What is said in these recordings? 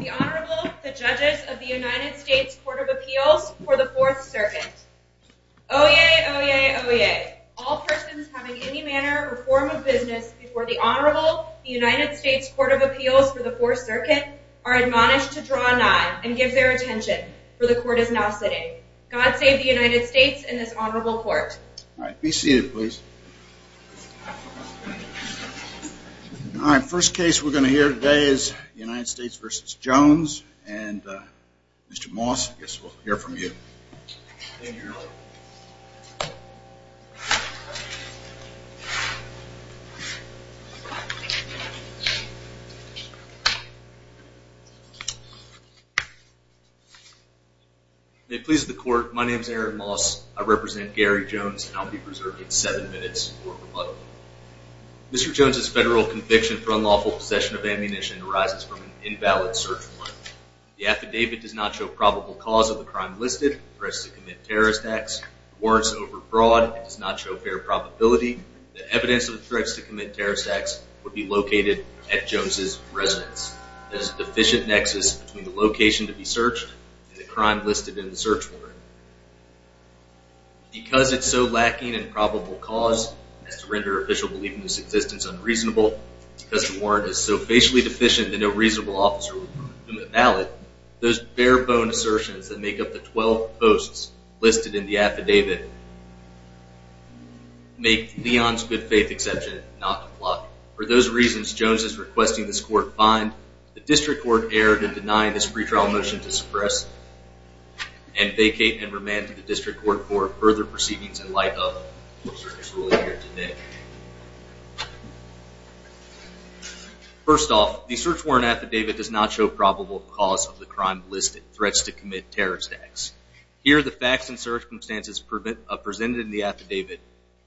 The Honorable, the Judges of the United States Court of Appeals for the Fourth Circuit. Oyez, oyez, oyez. All persons having any manner or form of business before the Honorable, the United States Court of Appeals for the Fourth Circuit, are admonished to draw a nine and give their attention, for the Court is now sitting. God save the United States and this Honorable Court. All right, be seated please. All right, first case we're going to hear today is United States v. Jones and Mr. Moss, I guess we'll hear from you. Thank you, Your Honor. May it please the Court, my name is Aaron Moss, I represent Gary Jones, and I'll be preserving seven minutes for rebuttal. Mr. Jones' federal conviction for unlawful possession of ammunition arises from an invalid search warrant. The affidavit does not show probable cause of the crime listed, threats to commit terrorist acts, warrants overbroad, and does not show fair probability that evidence of threats to commit terrorist acts would be located at Jones' residence. There is a deficient nexus between the location to be searched and the crime listed in the search warrant. Because it's so lacking in probable cause as to render official belief in this existence unreasonable, because the warrant is so facially deficient that no reasonable officer would confirm it valid, those bare bone assertions that make up the 12 posts listed in the affidavit make Leon's good faith exception not to apply. For those reasons, Jones is requesting this Court find the District Court error in denying this pretrial motion to suppress and vacate and remand to the District Court for further proceedings in light of the court's ruling here today. First off, the search warrant affidavit does not show probable cause of the crime listed, threats to commit terrorist acts. Here, the facts and circumstances presented in the affidavit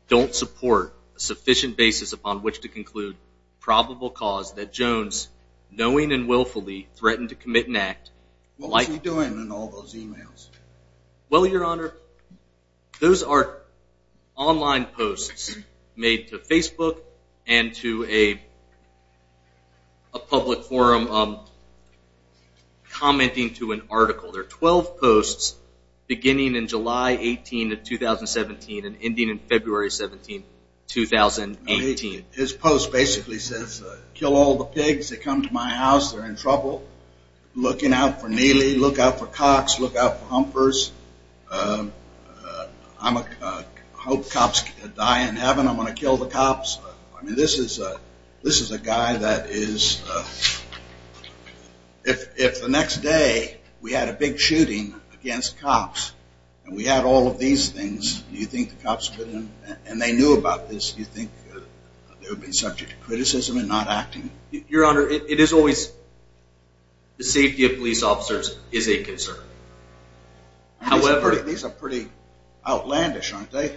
don't support a sufficient basis upon which to conclude probable cause that Jones, knowing and willfully, threatened to commit an act. What was he doing in all those emails? Well, Your Honor, those are online posts made to Facebook and to a public forum commenting to an article. There are 12 posts beginning in July 18 of 2017 and ending in February 17, 2018. His post basically says, kill all the pigs that come to my house, they're in trouble, look out for neely, look out for cocks, look out for humpers, I hope cops die in heaven, I'm going to kill the cops. I mean, this is a guy that is, if the next day we had a big shooting against cops and we had all of these things, do you think the cops would, and they knew about this, do you think they would be subject to criticism and not acting? Your Honor, it is always, the safety of police officers is a concern. These are pretty outlandish, aren't they?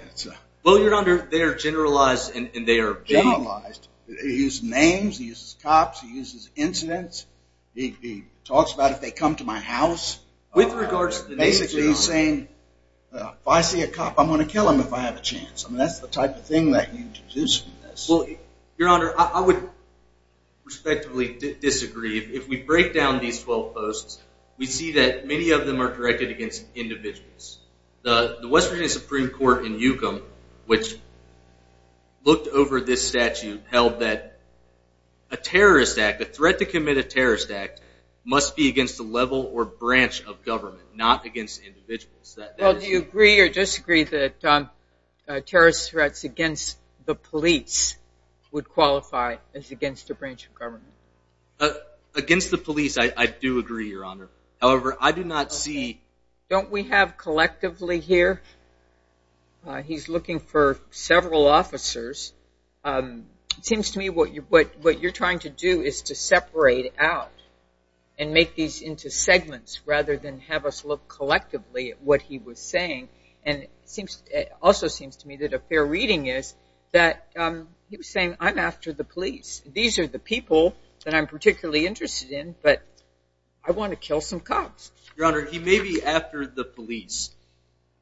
Well, Your Honor, they are generalized and they are vague. Generalized? He uses names, he uses cops, he uses incidents, he talks about if they come to my house. With regards to the names, Your Honor. Basically, he's saying, if I see a cop, I'm going to kill him if I have a chance. I mean, that's the type of thing that you deduce from this. Well, Your Honor, I would respectfully disagree. If we break down these 12 posts, we see that many of them are directed against individuals. The West Virginia Supreme Court in Yukon, which looked over this statute, held that a terrorist act, a threat to commit a terrorist act, must be against a level or branch of government, not against individuals. Well, do you agree or disagree that terrorist threats against the police would qualify as against a branch of government? Against the police, I do agree, Your Honor. However, I do not see... Don't we have collectively here, he's looking for several officers. It seems to me what you're trying to do is to separate out and make these into segments rather than have us look collectively at what he was saying. And it also seems to me that a fair reading is that he was saying, I'm after the police. These are the people that I'm particularly interested in, but I want to kill some cops. Your Honor, he may be after the police.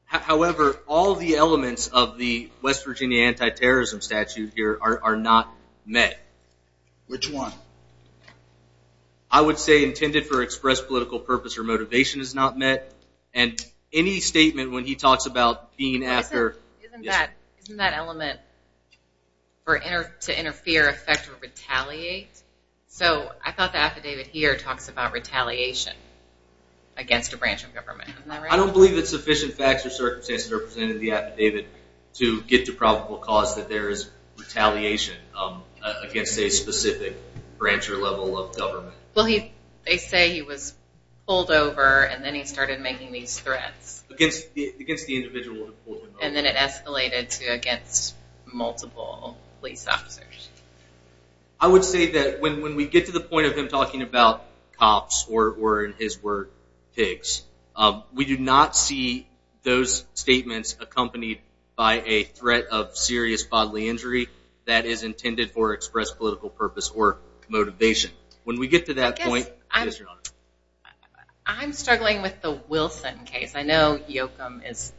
However, all the elements of the West Virginia anti-terrorism statute here are not met. Which one? I would say intended for express political purpose or motivation is not met. And any statement when he talks about being after... I don't believe it's sufficient facts or circumstances represented in the affidavit to get to probable cause that there is retaliation against a specific branch or level of government. Well, they say he was pulled over and then he started making these threats. Against the individual who pulled him over. And then it escalated to against multiple police officers. I would say that when we get to the point of him talking about cops or, in his word, pigs, we do not see those statements accompanied by a threat of serious bodily injury that is intended for express political purpose or motivation. When we get to that point... I'm struggling with the Wilson case. I know Yoakam is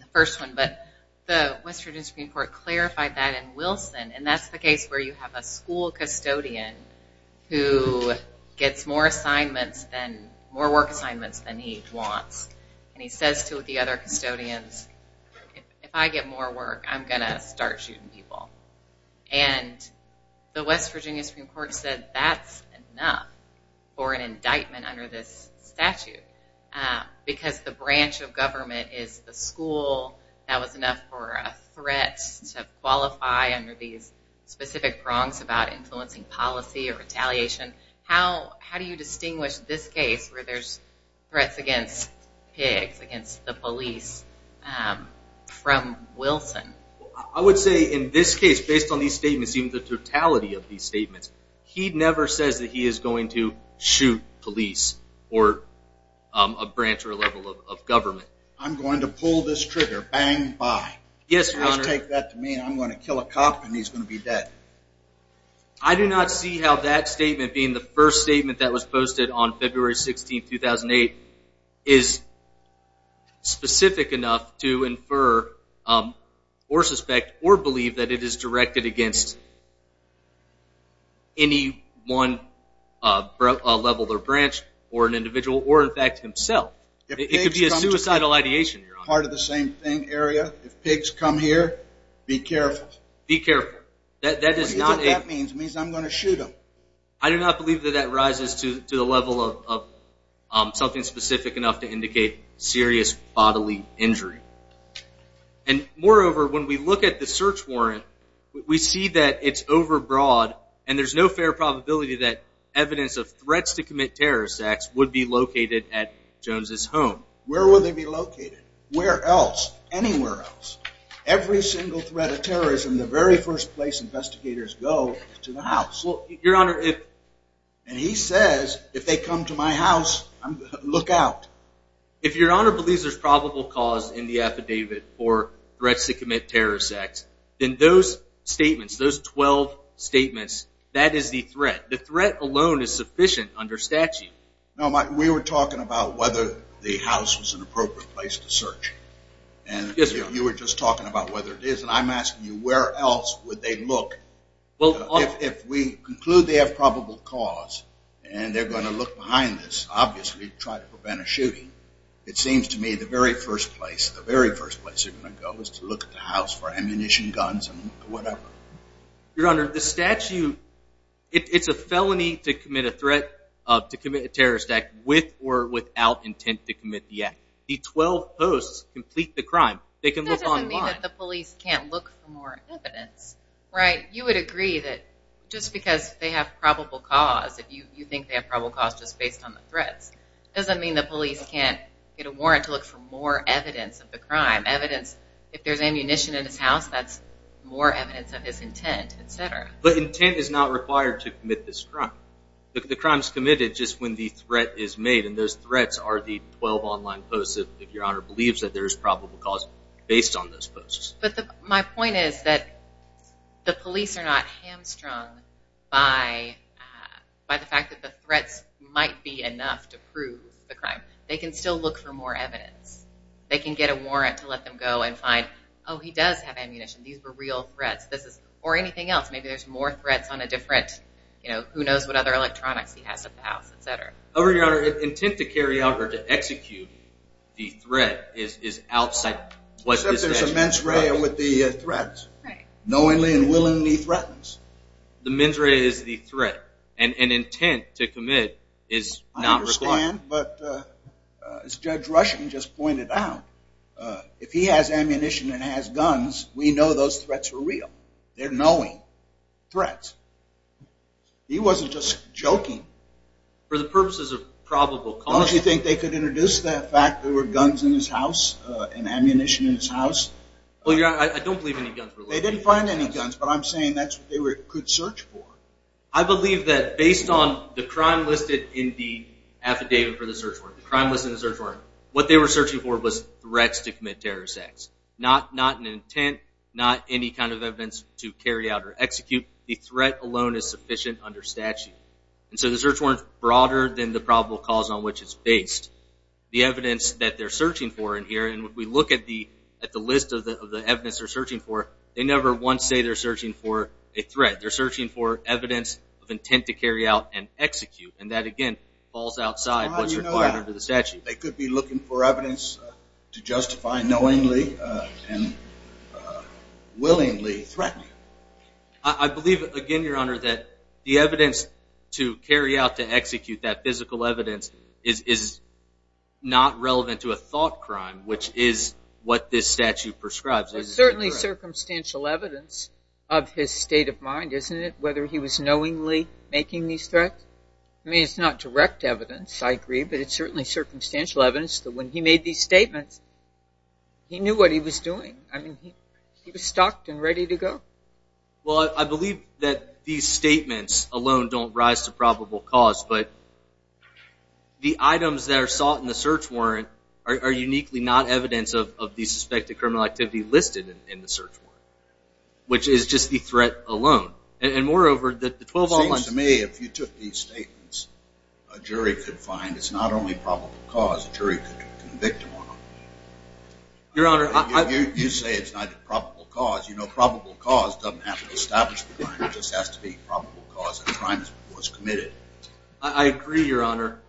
the first one, but the West Virginia Supreme Court clarified that in Wilson. And that's the case where you have a school custodian who gets more assignments, more work assignments than he wants. And he says to the other custodians, if I get more work, I'm going to start shooting people. And the West Virginia Supreme Court said that's enough for an indictment under this statute. Because the branch of government is the school, that was enough for a threat to qualify under these specific prongs about influencing policy or retaliation. How do you distinguish this case, where there's threats against pigs, against the police, from Wilson? I would say in this case, based on these statements, even the totality of these statements, he never says that he is going to shoot police or a branch or a level of government. I'm going to pull this trigger, bang, bye. Yes, Your Honor. Just take that to mean I'm going to kill a cop and he's going to be dead. I do not see how that statement being the first statement that was posted on February 16, 2008, is specific enough to infer or suspect or believe that it is directed against any one level or branch or an individual or in fact himself. It could be a suicidal ideation, Your Honor. Part of the same thing, area. If pigs come here, be careful. Be careful. That is not a... That means I'm going to shoot him. I do not believe that that rises to the level of something specific enough to indicate serious bodily injury. And moreover, when we look at the search warrant, we see that it's overbroad and there's no fair probability that evidence of threats to commit terrorist acts would be located at Jones' home. Where would they be located? Where else? Anywhere else? Every single threat of terrorism, the very first place investigators go is to the house. Your Honor, if... And he says, if they come to my house, look out. If Your Honor believes there's probable cause in the affidavit for threats to commit terrorist acts, then those statements, those 12 statements, that is the threat. The threat alone is sufficient under statute. No, we were talking about whether the house was an appropriate place to search. Yes, Your Honor. But you were just talking about whether it is, and I'm asking you, where else would they look? Well... If we conclude they have probable cause and they're going to look behind this, obviously try to prevent a shooting, it seems to me the very first place, the very first place they're going to go is to look at the house for ammunition, guns, and whatever. Your Honor, the statute, it's a felony to commit a threat, to commit a terrorist act, with or without intent to commit the act. The 12 posts complete the crime. They can look online. That doesn't mean that the police can't look for more evidence, right? You would agree that just because they have probable cause, if you think they have probable cause just based on the threats, doesn't mean the police can't get a warrant to look for more evidence of the crime. Evidence, if there's ammunition in his house, that's more evidence of his intent, et cetera. But intent is not required to commit this crime. The crime's committed just when the threat is made, and those threats are the 12 online posts, if Your Honor believes that there's probable cause based on those posts. But my point is that the police are not hamstrung by the fact that the threats might be enough to prove the crime. They can still look for more evidence. They can get a warrant to let them go and find, oh, he does have ammunition. These were real threats. Or anything else. Maybe there's more threats on a different, you know, who knows what other electronics he has at the house, et cetera. However, Your Honor, intent to carry out or to execute the threat is outside what this is. Except there's a mens rea with the threats. Right. Knowingly and willingly threatens. The mens rea is the threat, and intent to commit is not required. But as Judge Rushing just pointed out, if he has ammunition and has guns, we know those threats were real. They're knowing threats. He wasn't just joking. For the purposes of probable cause. Don't you think they could introduce the fact there were guns in his house and ammunition in his house? Well, Your Honor, I don't believe any guns were located in his house. They didn't find any guns, but I'm saying that's what they could search for. I believe that based on the crime listed in the affidavit for the search warrant, the crime listed in the search warrant, what they were searching for was threats to commit terrorist acts. Not an intent, not any kind of evidence to carry out or execute. The threat alone is sufficient under statute. And so the search warrant's broader than the probable cause on which it's based. The evidence that they're searching for in here, and when we look at the list of the evidence they're searching for, they never once say they're searching for a threat. They're searching for evidence of intent to carry out and execute. And that, again, falls outside what's required under the statute. They could be looking for evidence to justify knowingly and willingly threatening. I believe, again, Your Honor, that the evidence to carry out to execute, that physical evidence, is not relevant to a thought crime, which is what this statute prescribes. It's certainly circumstantial evidence of his state of mind, isn't it, whether he was knowingly making these threats? I mean, it's not direct evidence, I agree, but it's certainly circumstantial evidence that when he made these statements, he knew what he was doing. I mean, he was stocked and ready to go. Well, I believe that these statements alone don't rise to probable cause, but the items that are sought in the search warrant are uniquely not evidence of the suspected criminal activity listed in the search warrant, which is just the threat alone. And moreover, the 12 all-months... It seems to me if you took these statements, a jury could find it's not only probable cause. A jury could convict him or not. Your Honor, I... You say it's not a probable cause. You know, probable cause doesn't have to establish the crime. It just has to be probable cause of crimes was committed. I agree, Your Honor.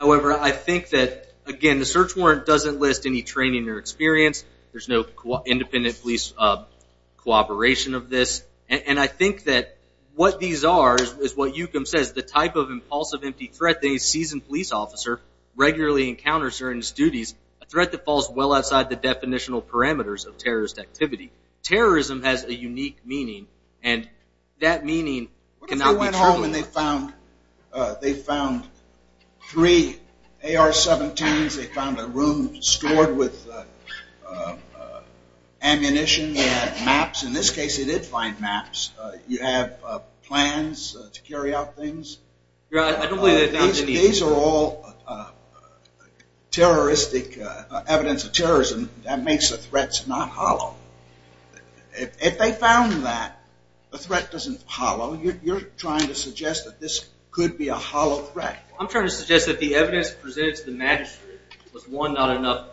However, I think that, again, the search warrant doesn't list any training or experience. There's no independent police cooperation of this. And I think that what these are is what Yukum says, the type of impulsive empty threat that a seasoned police officer regularly encounters during his duties, a threat that falls well outside the definitional parameters of terrorist activity. Terrorism has a unique meaning, and that meaning cannot be... What if they went home and they found three AR-17s. They found a room stored with ammunition and maps. In this case, they did find maps. You have plans to carry out things. Your Honor, I don't believe that... These are all terroristic evidence of terrorism. That makes the threats not hollow. If they found that, the threat doesn't hollow. You're trying to suggest that this could be a hollow threat. I'm trying to suggest that the evidence presented to the magistrate was, one, not enough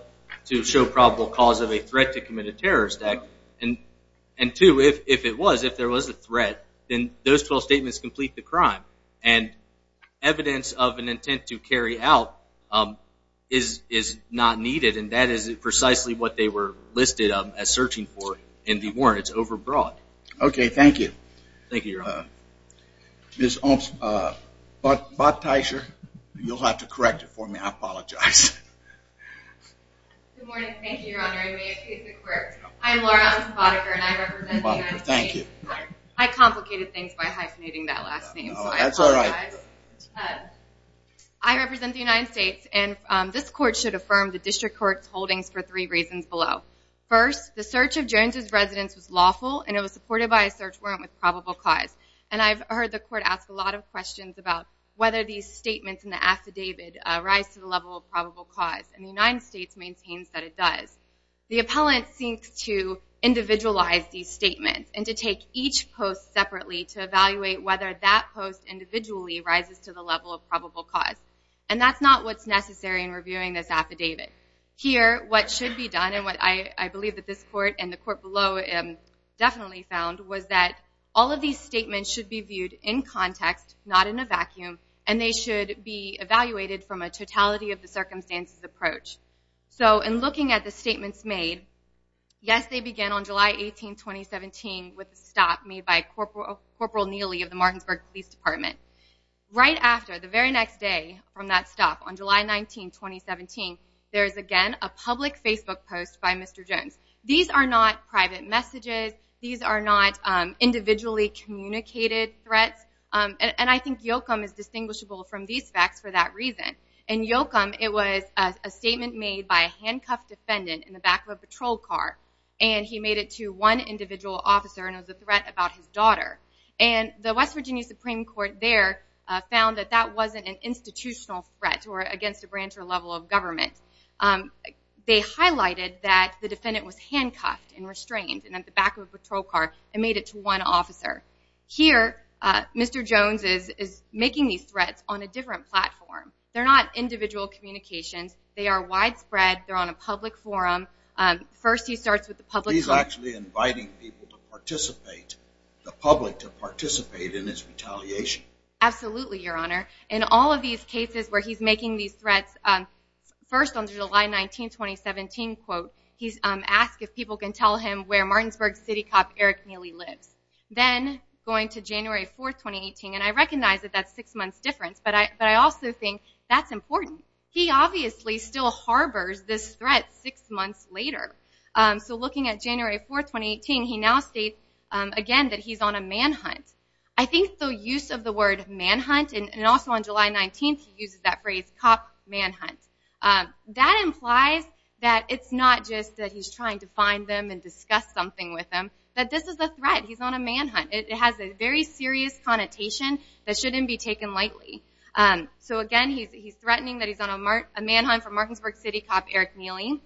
to show probable cause of a threat to commit a terrorist act, and, two, if it was, if there was a threat, then those 12 statements complete the crime. And evidence of an intent to carry out is not needed, and that is precisely what they were listed as searching for in the warrant. It's over-broad. Thank you, Your Honor. Ms. Botticher, you'll have to correct it for me. I apologize. Good morning. Thank you, Your Honor. I may have confused the court. I'm Laura Alice Botticher, and I represent the United States. Thank you. I complicated things by hyphenating that last name, so I apologize. That's all right. I represent the United States, and this court should affirm the district court's holdings for three reasons below. First, the search of Jones' residence was lawful, and it was supported by a search warrant with probable cause. And I've heard the court ask a lot of questions about whether these statements in the affidavit rise to the level of probable cause, and the United States maintains that it does. The appellant seeks to individualize these statements and to take each post separately to evaluate whether that post individually rises to the level of probable cause. And that's not what's necessary in reviewing this affidavit. Here, what should be done, and what I believe that this court and the court below definitely found, was that all of these statements should be viewed in context, not in a vacuum, and they should be evaluated from a totality-of-the-circumstances approach. So in looking at the statements made, yes, they began on July 18, 2017, with a stop made by Corporal Neely of the Martinsburg Police Department. Right after, the very next day from that stop, on July 19, 2017, there is again a public Facebook post by Mr. Jones. These are not private messages. These are not individually communicated threats. And I think Yoakum is distinguishable from these facts for that reason. In Yoakum, it was a statement made by a handcuffed defendant in the back of a patrol car, and he made it to one individual officer and it was a threat about his daughter. And the West Virginia Supreme Court there found that that wasn't an institutional threat or against a branch or level of government. They highlighted that the defendant was handcuffed and restrained and at the back of a patrol car and made it to one officer. Here, Mr. Jones is making these threats on a different platform. They're not individual communications. They are widespread. They're on a public forum. First, he starts with the public forum. He's actually inviting people to participate, the public to participate in his retaliation. Absolutely, Your Honor. In all of these cases where he's making these threats, first on July 19, 2017, he's asked if people can tell him where Martinsburg City cop Eric Neely lives. Then, going to January 4, 2018, and I recognize that that's six months difference, but I also think that's important. He obviously still harbors this threat six months later. So looking at January 4, 2018, he now states again that he's on a manhunt. I think the use of the word manhunt, and also on July 19, he uses that phrase cop manhunt. That implies that it's not just that he's trying to find them and discuss something with them, that this is a threat. He's on a manhunt. It has a very serious connotation that shouldn't be taken lightly. So again, he's threatening that he's on a manhunt for Martinsburg City cop Eric Neely.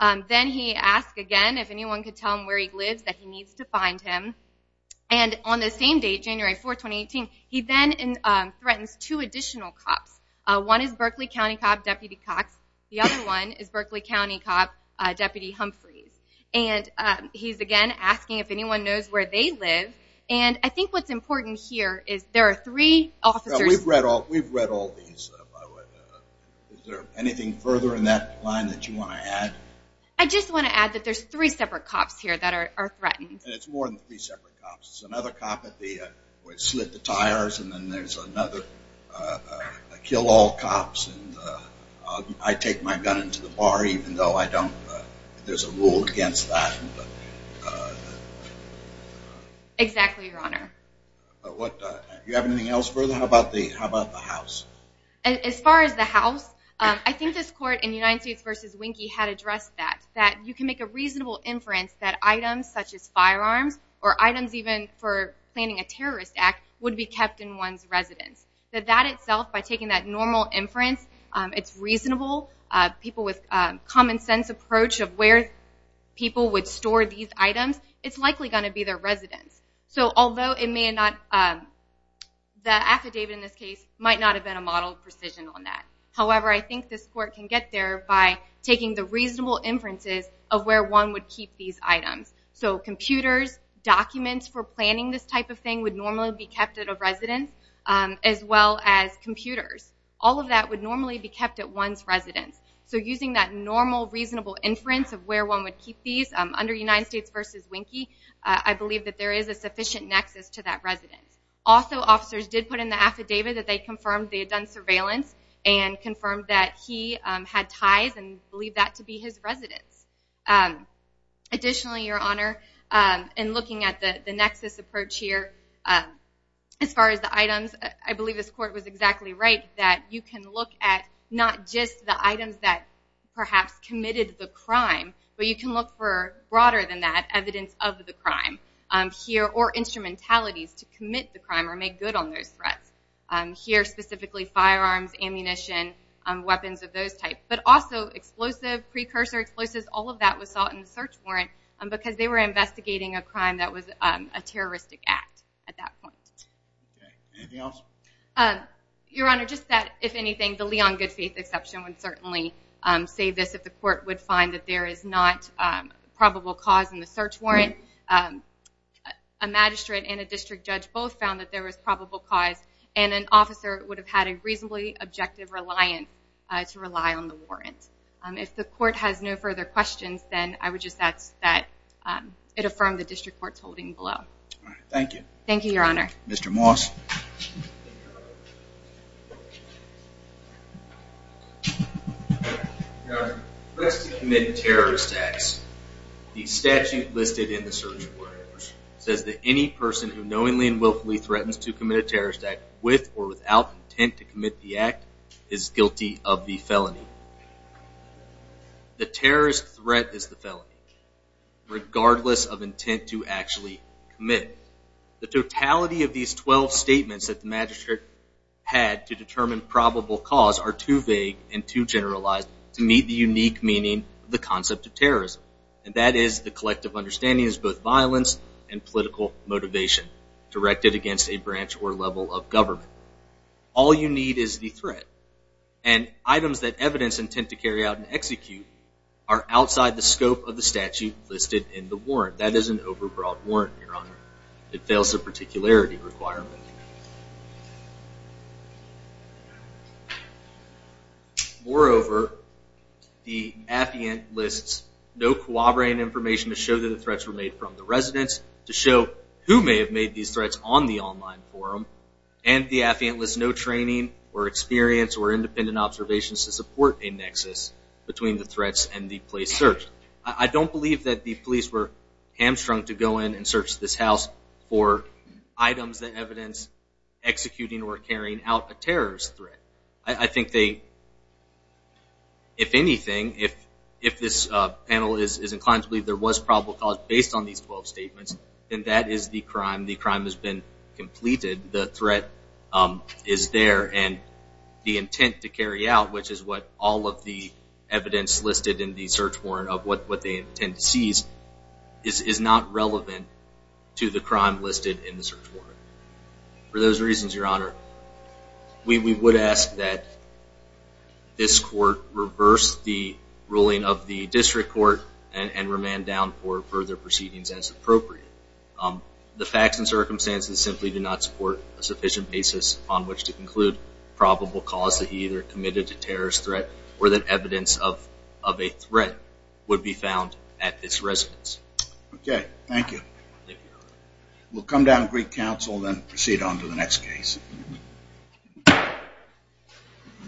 Then he asks again if anyone could tell him where he lives that he needs to find him. And on the same day, January 4, 2018, he then threatens two additional cops. One is Berkeley County cop Deputy Cox. The other one is Berkeley County cop Deputy Humphreys. And he's again asking if anyone knows where they live. And I think what's important here is there are three officers. We've read all these. Is there anything further in that line that you want to add? I just want to add that there's three separate cops here that are threatened. And it's more than three separate cops. There's another cop that slid the tires, and then there's another kill all cops. I take my gun into the bar even though I don't, there's a rule against that. Exactly, Your Honor. Do you have anything else further? How about the house? As far as the house, I think this court in United States v. Winkie had addressed that, that you can make a reasonable inference that items such as firearms or items even for planning a terrorist act would be kept in one's residence. That that itself, by taking that normal inference, it's reasonable. People with common sense approach of where people would store these items, it's likely going to be their residence. So although it may not, the affidavit in this case might not have been a model of precision on that. However, I think this court can get there by taking the reasonable inferences of where one would keep these items. So computers, documents for planning this type of thing would normally be kept at a residence, as well as computers. All of that would normally be kept at one's residence. So using that normal reasonable inference of where one would keep these, under United States v. Winkie, I believe that there is a sufficient nexus to that residence. Also, officers did put in the affidavit that they confirmed they had done surveillance and confirmed that he had ties and believed that to be his residence. Additionally, Your Honor, in looking at the nexus approach here, as far as the items, I believe this court was exactly right, that you can look at not just the items that perhaps committed the crime, but you can look for, broader than that, evidence of the crime here, or instrumentalities to commit the crime or make good on those threats. Here, specifically, firearms, ammunition, weapons of those types, but also explosive, precursor explosives, all of that was sought in the search warrant because they were investigating a crime that was a terroristic act at that point. Anything else? Your Honor, just that, if anything, the Leon Goodfaith exception would certainly save this if the court would find that there is not probable cause in the search warrant. A magistrate and a district judge both found that there was probable cause, and an officer would have had a reasonably objective reliance to rely on the warrant. If the court has no further questions, then I would just ask that it affirm the district court's holding below. Thank you. Thank you, Your Honor. Mr. Moss. Thank you, Your Honor. Your Honor, threats to commit terrorist acts, the statute listed in the search warrant says that any person who knowingly and willfully threatens to commit a terrorist act with or without intent to commit the act is guilty of the felony. The terrorist threat is the felony, regardless of intent to actually commit. The totality of these 12 statements that the magistrate had to determine probable cause are too vague and too generalized to meet the unique meaning of the concept of terrorism, and that is the collective understanding is both violence and political motivation directed against a branch or level of government. All you need is the threat, and items that evidence intend to carry out and execute That is an overbroad warrant, Your Honor. It fails the particularity requirement. Moreover, the affiant lists no corroborating information to show that the threats were made from the residents, to show who may have made these threats on the online forum, and the affiant lists no training or experience or independent observations to support a nexus between the threats and the place searched. I don't believe that the police were hamstrung to go in and search this house for items that evidence executing or carrying out a terrorist threat. I think they, if anything, if this panel is inclined to believe there was probable cause based on these 12 statements, then that is the crime. The crime has been completed. The threat is there, and the intent to carry out, which is what all of the evidence listed in the search warrant of what they intend to seize, is not relevant to the crime listed in the search warrant. For those reasons, Your Honor, we would ask that this court reverse the ruling of the district court and remand down for further proceedings as appropriate. The facts and circumstances simply do not support a sufficient basis on which to conclude that there was probable cause that he either committed a terrorist threat or that evidence of a threat would be found at this residence. Okay. Thank you. We'll come down to Greek Council and then proceed on to the next case.